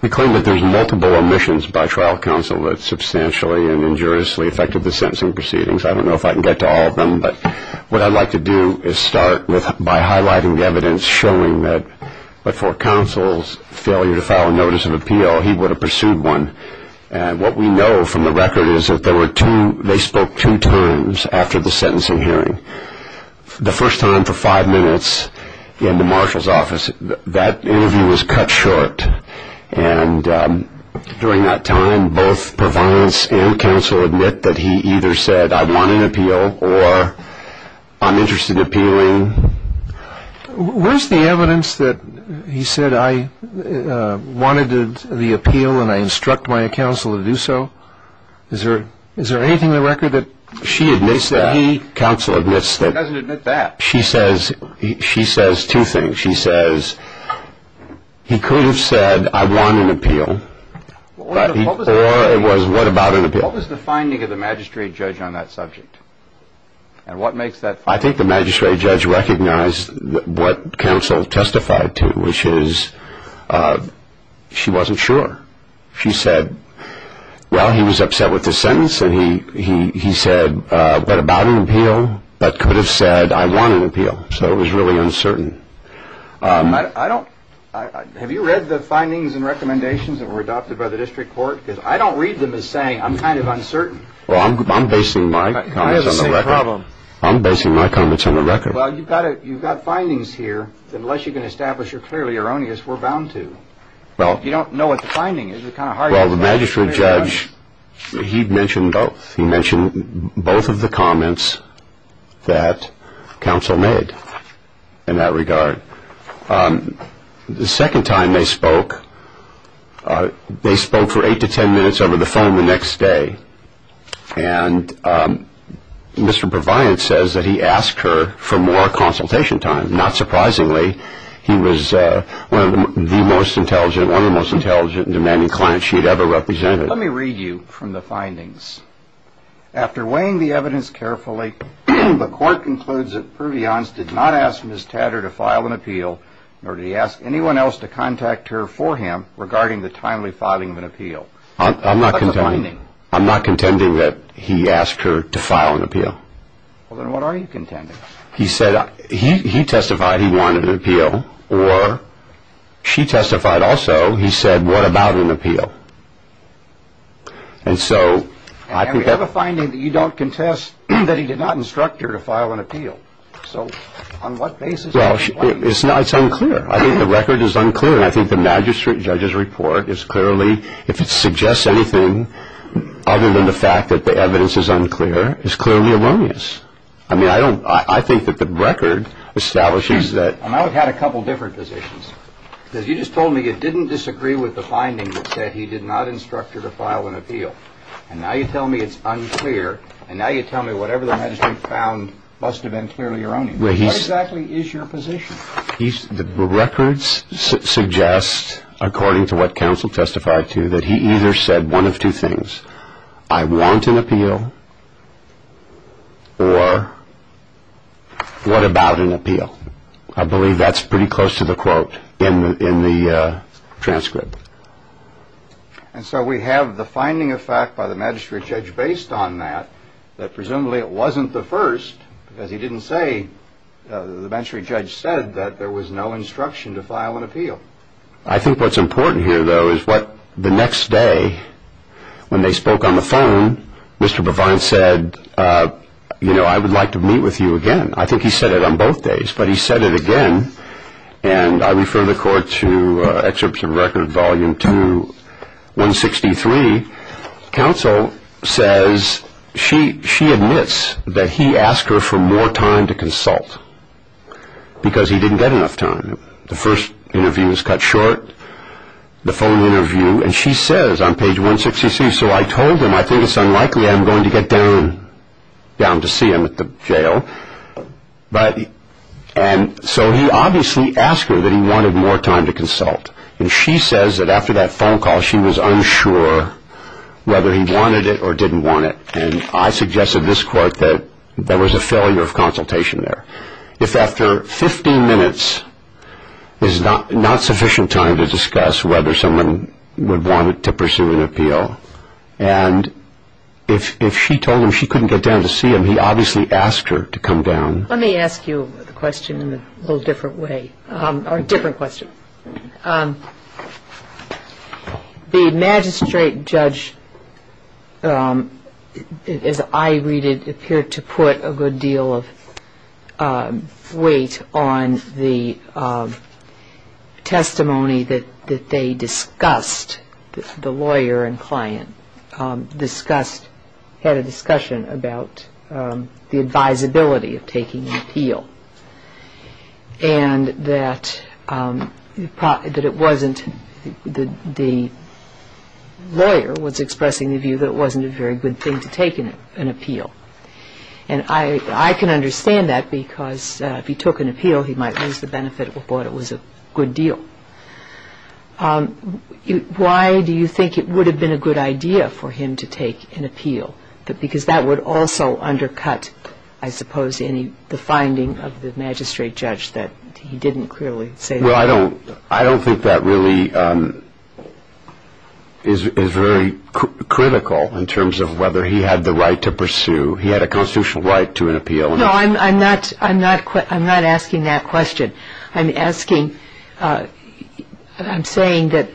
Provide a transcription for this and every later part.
We claim that there are multiple omissions by trial counsel that substantially and injuriously affected the sentencing proceedings. I don't know if I can get to all of them, but what I'd like to do is start by highlighting the evidence showing that for counsel's failure to file a notice of appeal, he would have pursued one. And what we know from the record is that they spoke two times after the sentencing hearing. The first time for five minutes in the marshal's office, that interview was cut short. And during that time, both Purviance and counsel admit that he either said, I want an appeal or I'm interested in appealing. Where's the evidence that he said, I wanted the appeal and I instruct my counsel to do so? Is there anything in the record that she admits that he counsel admits that she says, she says two things. She says, he could have said, I want an appeal, or it was what about an appeal? What was the finding of the magistrate judge on that subject? And what makes that? I think the magistrate judge recognized what counsel testified to, which is she wasn't sure. She said, well, he was upset with the sentence. And he said, but about an appeal, but could have said, I want an appeal. So it was really uncertain. I don't. Have you read the findings and recommendations that were adopted by the district court? Because I don't read them as saying I'm kind of uncertain. Well, I'm basing my comments on the record. I have the same problem. I'm basing my comments on the record. Well, you've got findings here that unless you can establish you're clearly erroneous, we're bound to. You don't know what the finding is. Well, the magistrate judge, he mentioned both. He mentioned both of the comments that counsel made in that regard. The second time they spoke, they spoke for eight to ten minutes over the phone the next day. And Mr. Proviance says that he asked her for more consultation time. Not surprisingly, he was one of the most intelligent, one of the most intelligent and demanding clients she had ever represented. After weighing the evidence carefully, the court concludes that Proviance did not ask Ms. Tatter to file an appeal, nor did he ask anyone else to contact her for him regarding the timely filing of an appeal. I'm not contending. What's the finding? I'm not contending that he asked her to file an appeal. Well, then what are you contending? He said he testified he wanted an appeal, or she testified also he said, what about an appeal? And so I think that – And we have a finding that you don't contest that he did not instruct her to file an appeal. So on what basis – Well, it's unclear. I think the record is unclear, and I think the magistrate judge's report is clearly, if it suggests anything other than the fact that the evidence is unclear, is clearly erroneous. I mean, I don't – I think that the record establishes that – And I would have had a couple different positions. Because you just told me you didn't disagree with the finding that said he did not instruct her to file an appeal, and now you tell me it's unclear, and now you tell me whatever the magistrate found must have been clearly erroneous. What exactly is your position? The records suggest, according to what counsel testified to, that he either said one of two things, I want an appeal, or what about an appeal? I believe that's pretty close to the quote in the transcript. And so we have the finding of fact by the magistrate judge based on that, that presumably it wasn't the first, because he didn't say – the magistrate judge said that there was no instruction to file an appeal. I think what's important here, though, is what – the next day, when they spoke on the phone, Mr. Provine said, you know, I would like to meet with you again. I think he said it on both days, but he said it again, and I refer the court to Excerpt from Record, Volume 2, 163. Counsel says – she admits that he asked her for more time to consult, because he didn't get enough time. The first interview is cut short, the phone interview, and she says on page 163, I think it's unlikely I'm going to get down to see him at the jail. And so he obviously asked her that he wanted more time to consult, and she says that after that phone call, she was unsure whether he wanted it or didn't want it, and I suggested to this court that there was a failure of consultation there. If after 15 minutes is not sufficient time to discuss whether someone would want to pursue an appeal, and if she told him she couldn't get down to see him, he obviously asked her to come down. Let me ask you the question in a little different way, or a different question. The magistrate judge, as I read it, appeared to put a good deal of weight on the testimony that they discussed, the lawyer and client discussed, had a discussion about the advisability of taking an appeal, and that the lawyer was expressing the view that it wasn't a very good thing to take an appeal. And I can understand that, because if he took an appeal, he might lose the benefit of what it was a good deal. Why do you think it would have been a good idea for him to take an appeal? Because that would also undercut, I suppose, the finding of the magistrate judge that he didn't clearly say that. Well, I don't think that really is very critical in terms of whether he had the right to pursue. He had a constitutional right to an appeal. No, I'm not asking that question. I'm asking, I'm saying that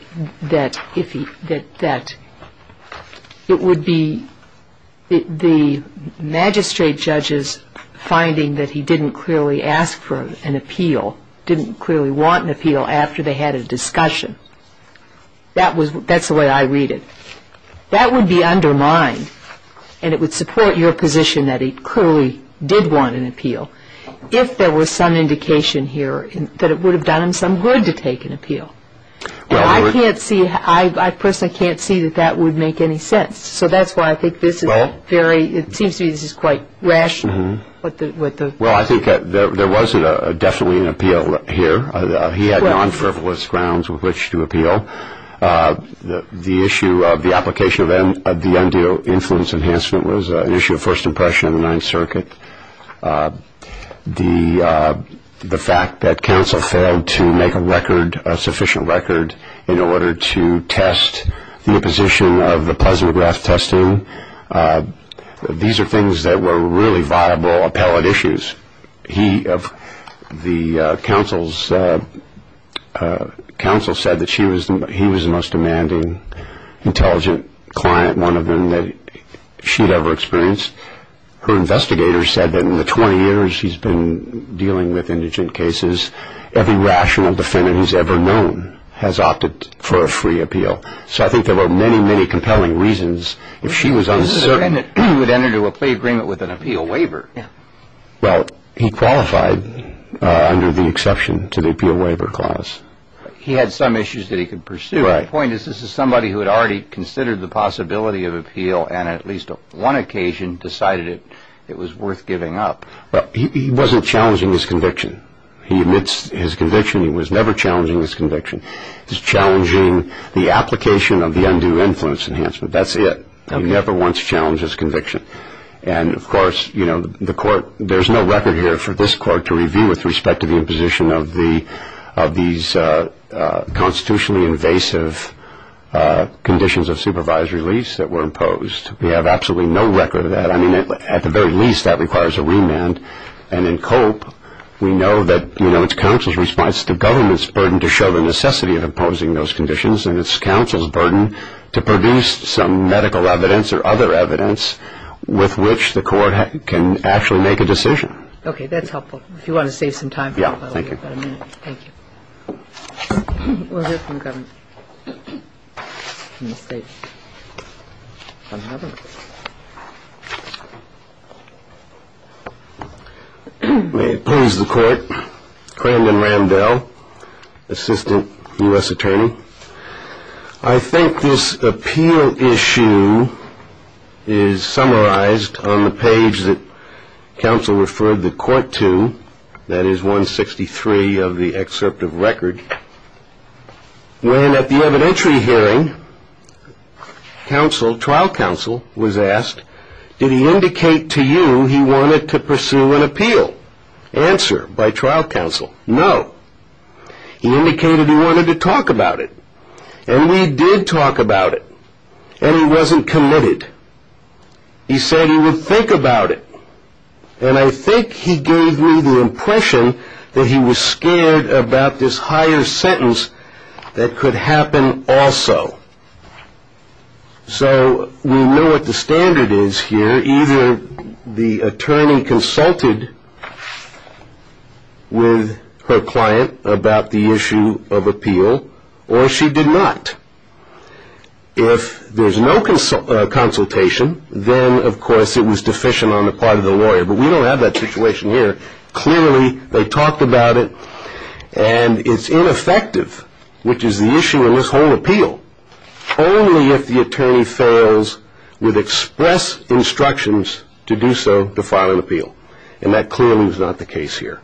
it would be the magistrate judge's finding that he didn't clearly ask for an appeal, didn't clearly want an appeal after they had a discussion. That's the way I read it. That would be undermined, and it would support your position that he clearly did want an appeal. If there was some indication here that it would have done him some good to take an appeal. And I can't see, I personally can't see that that would make any sense. So that's why I think this is very, it seems to me this is quite rational. Well, I think there was definitely an appeal here. He had non-frivolous grounds with which to appeal. The issue of the application of the undue influence enhancement was an issue of first impression in the Ninth Circuit. The fact that counsel failed to make a record, a sufficient record, in order to test the imposition of the Pleasant-Grath testing, these are things that were really viable appellate issues. He, the counsel said that he was the most demanding, intelligent client, one of them, that she had ever experienced. Her investigator said that in the 20 years she's been dealing with indigent cases, every rational defendant who's ever known has opted for a free appeal. So I think there were many, many compelling reasons if she was uncertain. This is a defendant who would enter into a plea agreement with an appeal waiver. Well, he qualified under the exception to the appeal waiver clause. He had some issues that he could pursue. The point is this is somebody who had already considered the possibility of appeal and at least on one occasion decided it was worth giving up. Well, he wasn't challenging his conviction. He admits his conviction. He was never challenging his conviction. He's challenging the application of the undue influence enhancement. That's it. He never once challenged his conviction. And, of course, you know, the court, there's no record here for this court to review with respect to the imposition of these constitutionally invasive conditions of supervisory release that were imposed. We have absolutely no record of that. I mean, at the very least, that requires a remand. And in COPE, we know that, you know, it's counsel's response to government's burden to show the necessity of imposing those conditions, and it's counsel's burden to produce some medical evidence or other evidence with which the court can actually make a decision. Okay. That's helpful. If you want to save some time for that, we've got a minute. Thank you. Thank you. We'll hear from the governor. From the state. From Harvard. May it please the court. Brandon Ramdell, assistant U.S. attorney. I think this appeal issue is summarized on the page that counsel referred the court to. That is 163 of the excerpt of record. When at the evidentiary hearing, trial counsel was asked, did he indicate to you he wanted to pursue an appeal? Answer by trial counsel, no. He indicated he wanted to talk about it. And we did talk about it. And he wasn't committed. He said he would think about it. And I think he gave me the impression that he was scared about this higher sentence that could happen also. So we know what the standard is here. Either the attorney consulted with her client about the issue of appeal, or she did not. If there's no consultation, then, of course, it was deficient on the part of the lawyer. But we don't have that situation here. Clearly, they talked about it, and it's ineffective, which is the issue in this whole appeal. Only if the attorney fails with express instructions to do so to file an appeal. And that clearly was not the case here.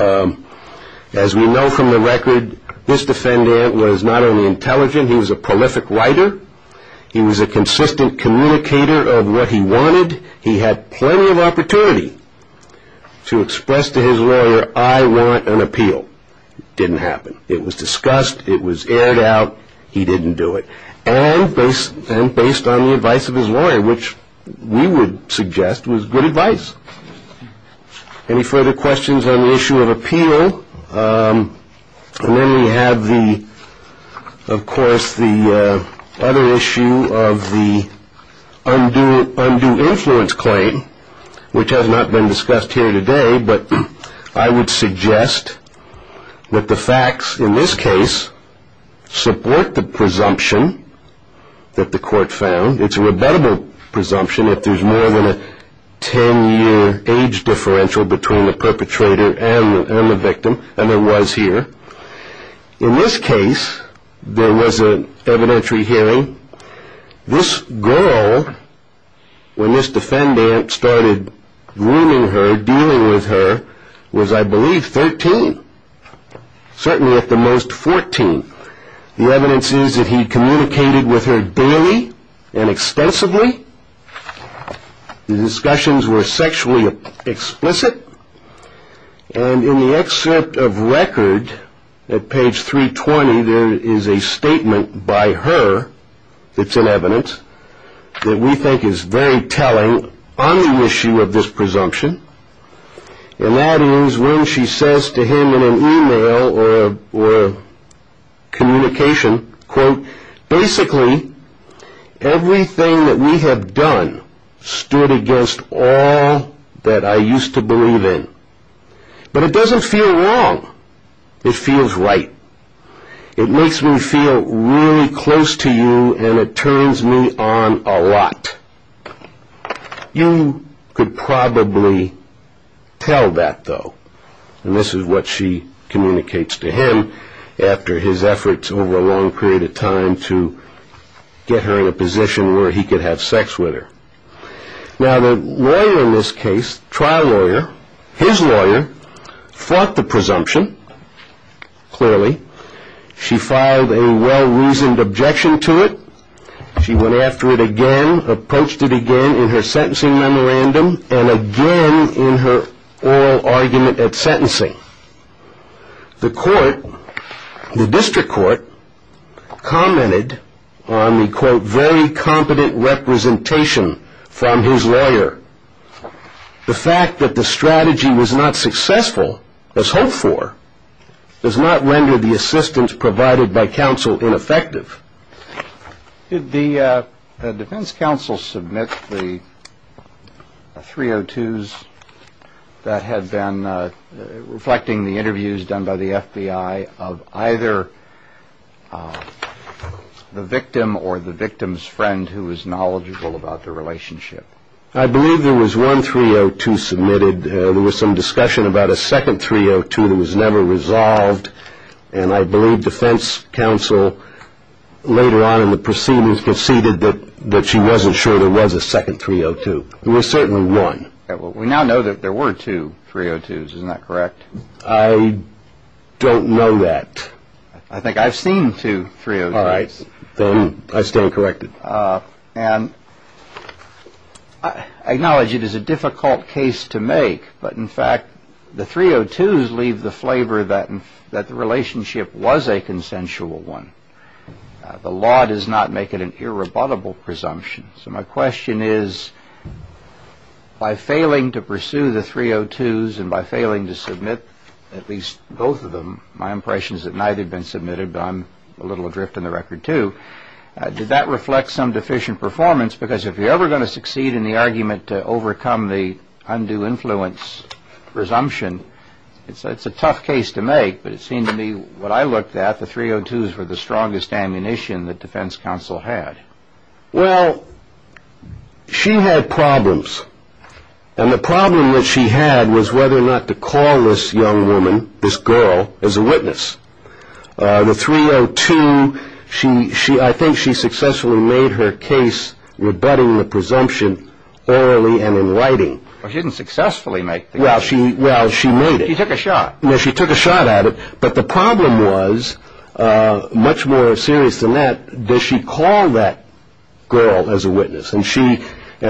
As we know from the record, this defendant was not only intelligent, he was a prolific writer. He was a consistent communicator of what he wanted. He had plenty of opportunity to express to his lawyer, I want an appeal. It didn't happen. It was discussed. It was aired out. He didn't do it. And based on the advice of his lawyer, which we would suggest was good advice. Any further questions on the issue of appeal? And then we have, of course, the other issue of the undue influence claim, which has not been discussed here today. But I would suggest that the facts in this case support the presumption that the court found. It's a rebuttable presumption if there's more than a ten-year age differential between the perpetrator and the victim. And there was here. In this case, there was an evidentiary hearing. This girl, when this defendant started grooming her, dealing with her, was, I believe, 13, certainly at the most 14. The evidence is that he communicated with her daily and extensively. The discussions were sexually explicit. And in the excerpt of record at page 320, there is a statement by her that's in evidence that we think is very telling on the issue of this presumption. And that is when she says to him in an e-mail or communication, Basically, everything that we have done stood against all that I used to believe in. But it doesn't feel wrong. It feels right. It makes me feel really close to you, and it turns me on a lot. You could probably tell that, though. And this is what she communicates to him after his efforts over a long period of time to get her in a position where he could have sex with her. Now, the lawyer in this case, trial lawyer, his lawyer, fought the presumption, clearly. She filed a well-reasoned objection to it. She went after it again, approached it again in her sentencing memorandum, and again in her oral argument at sentencing. The court, the district court, commented on the, quote, very competent representation from his lawyer. The fact that the strategy was not successful, as hoped for, does not render the assistance provided by counsel ineffective. Did the defense counsel submit the 302s that had been reflecting the interviews done by the FBI of either the victim or the victim's friend who was knowledgeable about the relationship? I believe there was one 302 submitted. There was some discussion about a second 302 that was never resolved. And I believe defense counsel later on in the proceedings conceded that she wasn't sure there was a second 302. There was certainly one. We now know that there were two 302s. Isn't that correct? I don't know that. I think I've seen two 302s. All right. Then I stand corrected. And I acknowledge it is a difficult case to make. But, in fact, the 302s leave the flavor that the relationship was a consensual one. The law does not make it an irrebuttable presumption. So my question is, by failing to pursue the 302s and by failing to submit at least both of them, my impression is that neither had been submitted. But I'm a little adrift in the record, too. Did that reflect some deficient performance? Because if you're ever going to succeed in the argument to overcome the undue influence presumption, it's a tough case to make. But it seemed to me what I looked at, the 302s were the strongest ammunition that defense counsel had. Well, she had problems. And the problem that she had was whether or not to call this young woman, this girl, as a witness. The 302, I think she successfully made her case rebutting the presumption orally and in writing. Well, she didn't successfully make the case. Well, she made it. She took a shot. Well, she took a shot at it. But the problem was, much more serious than that, does she call that girl as a witness? And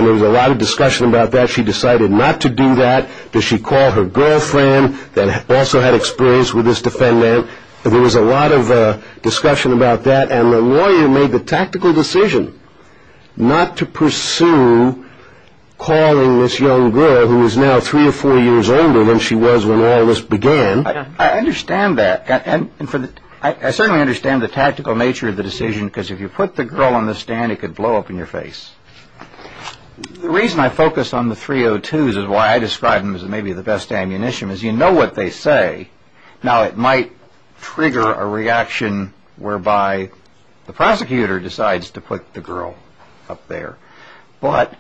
there was a lot of discussion about that. She decided not to do that. Does she call her girlfriend that also had experience with this defendant? There was a lot of discussion about that. And the lawyer made the tactical decision not to pursue calling this young girl who is now three or four years older than she was when all this began. I understand that. I certainly understand the tactical nature of the decision because if you put the girl on the stand, it could blow up in your face. The reason I focus on the 302s and why I describe them as maybe the best ammunition is you know what they say. Now, it might trigger a reaction whereby the prosecutor decides to put the girl up there. But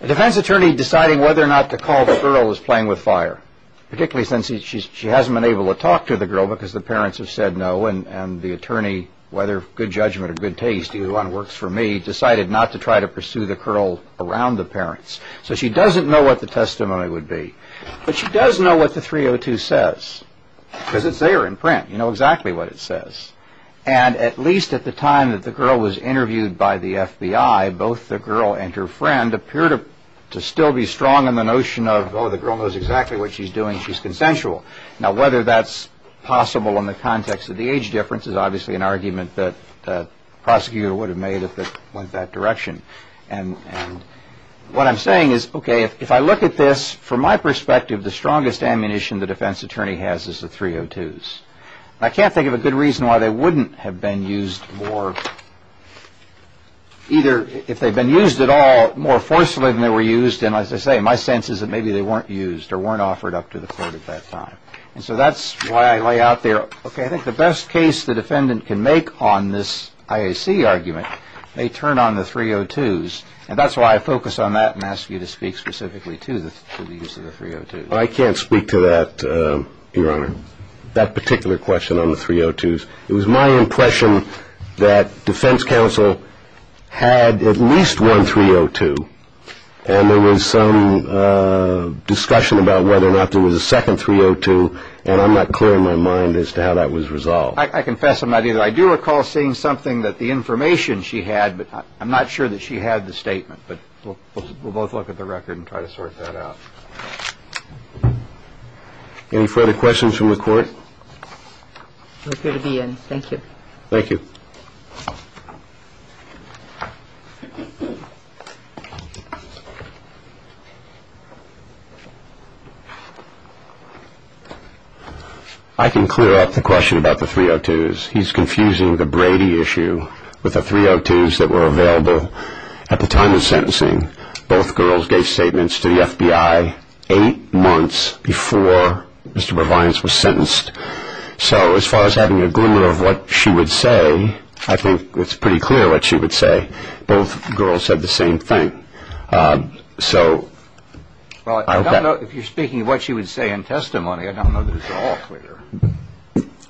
a defense attorney deciding whether or not to call the girl was playing with fire, particularly since she hasn't been able to talk to the girl because the parents have said no, and the attorney, whether good judgment or good taste, either one works for me, decided not to try to pursue the girl around the parents. So she doesn't know what the testimony would be. But she does know what the 302 says because it's there in print. You know exactly what it says. And at least at the time that the girl was interviewed by the FBI, both the girl and her friend appear to still be strong in the notion of, oh, the girl knows exactly what she's doing. She's consensual. Now, whether that's possible in the context of the age difference is obviously an argument that the prosecutor would have made if it went that direction. And what I'm saying is, okay, if I look at this from my perspective, the strongest ammunition the defense attorney has is the 302s. I can't think of a good reason why they wouldn't have been used more, either if they'd been used at all, more forcefully than they were used. And as I say, my sense is that maybe they weren't used or weren't offered up to the court at that time. And so that's why I lay out there, okay, I think the best case the defendant can make on this IAC argument may turn on the 302s. And that's why I focus on that and ask you to speak specifically to the use of the 302s. I can't speak to that, Your Honor, that particular question on the 302s. It was my impression that defense counsel had at least one 302, and there was some discussion about whether or not there was a second 302, and I'm not clear in my mind as to how that was resolved. I confess I'm not either. I do recall seeing something that the information she had, but I'm not sure that she had the statement. But we'll both look at the record and try to sort that out. Any further questions from the court? We're good to be in. Thank you. Thank you. I can clear up the question about the 302s. He's confusing the Brady issue with the 302s that were available at the time of sentencing. Both girls gave statements to the FBI eight months before Mr. Provines was sentenced. So as far as having an agreement of what she would say, I think it's pretty clear what she would say. Both girls said the same thing. So I don't know if you're speaking of what she would say in testimony. I don't know that it's all clear.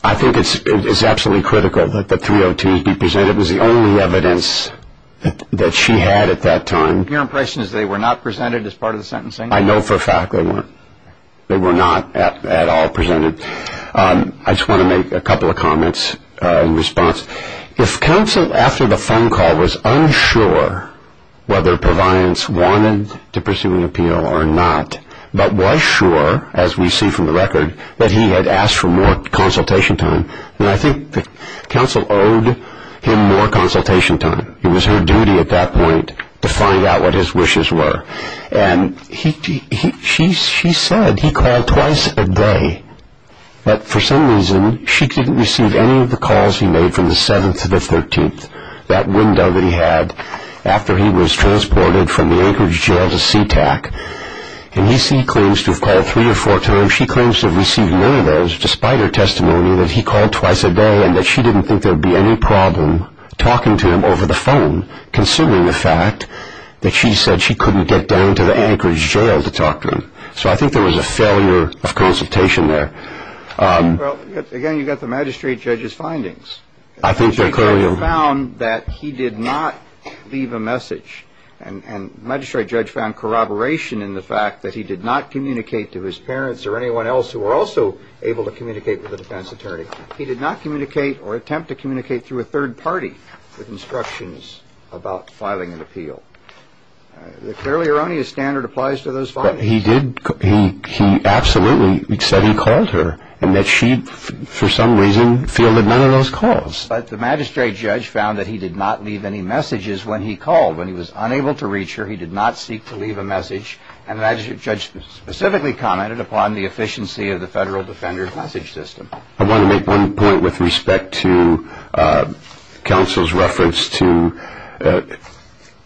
I think it's absolutely critical that the 302s be presented. It was the only evidence that she had at that time. Your impression is they were not presented as part of the sentencing? I know for a fact they weren't. They were not at all presented. I just want to make a couple of comments in response. If counsel, after the phone call, was unsure whether Provines wanted to pursue an appeal or not, but was sure, as we see from the record, that he had asked for more consultation time, then I think that counsel owed him more consultation time. It was her duty at that point to find out what his wishes were. And she said he called twice a day, but for some reason she didn't receive any of the calls he made from the 7th to the 13th, that window that he had after he was transported from the Anchorage jail to SeaTac. And he claims to have called three or four times. And she claims to have received none of those despite her testimony that he called twice a day and that she didn't think there would be any problem talking to him over the phone, considering the fact that she said she couldn't get down to the Anchorage jail to talk to him. So I think there was a failure of consultation there. Well, again, you've got the magistrate judge's findings. The magistrate judge found that he did not leave a message, and the magistrate judge found corroboration in the fact that he did not communicate to his parents or anyone else who were also able to communicate with the defense attorney. He did not communicate or attempt to communicate through a third party with instructions about filing an appeal. The clearly erroneous standard applies to those findings. But he absolutely said he called her and that she, for some reason, fielded none of those calls. But the magistrate judge found that he did not leave any messages when he called. When he was unable to reach her, he did not seek to leave a message. And the magistrate judge specifically commented upon the efficiency of the federal defender's message system. I want to make one point with respect to counsel's reference to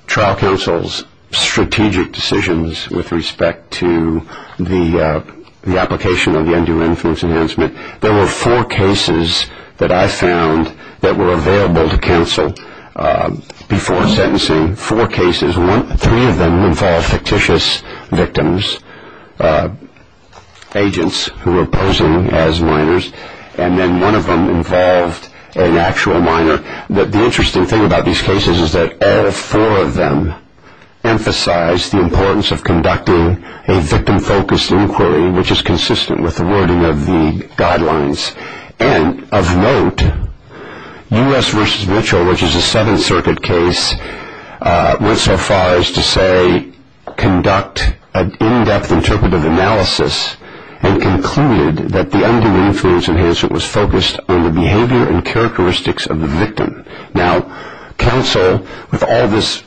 trial counsel's strategic decisions with respect to the application of the undue influence enhancement. There were four cases that I found that were available to counsel before sentencing, four cases. Three of them involved fictitious victims, agents who were posing as minors, and then one of them involved an actual minor. The interesting thing about these cases is that all four of them emphasized the importance of conducting a victim-focused inquiry, which is consistent with the wording of the guidelines. And of note, U.S. v. Mitchell, which is a Seventh Circuit case, went so far as to say conduct an in-depth interpretive analysis and concluded that the undue influence enhancement was focused on the behavior and characteristics of the victim. Now, counsel, with all this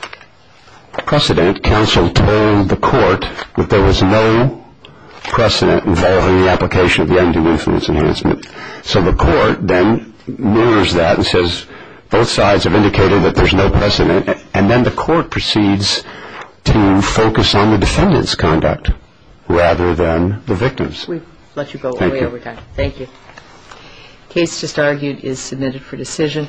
precedent, counsel told the court that there was no precedent involving the application of the undue influence enhancement. So the court then mirrors that and says both sides have indicated that there's no precedent, and then the court proceeds to focus on the defendant's conduct rather than the victim's. We've let you go way over time. Thank you. Thank you. The case just argued is submitted for decision.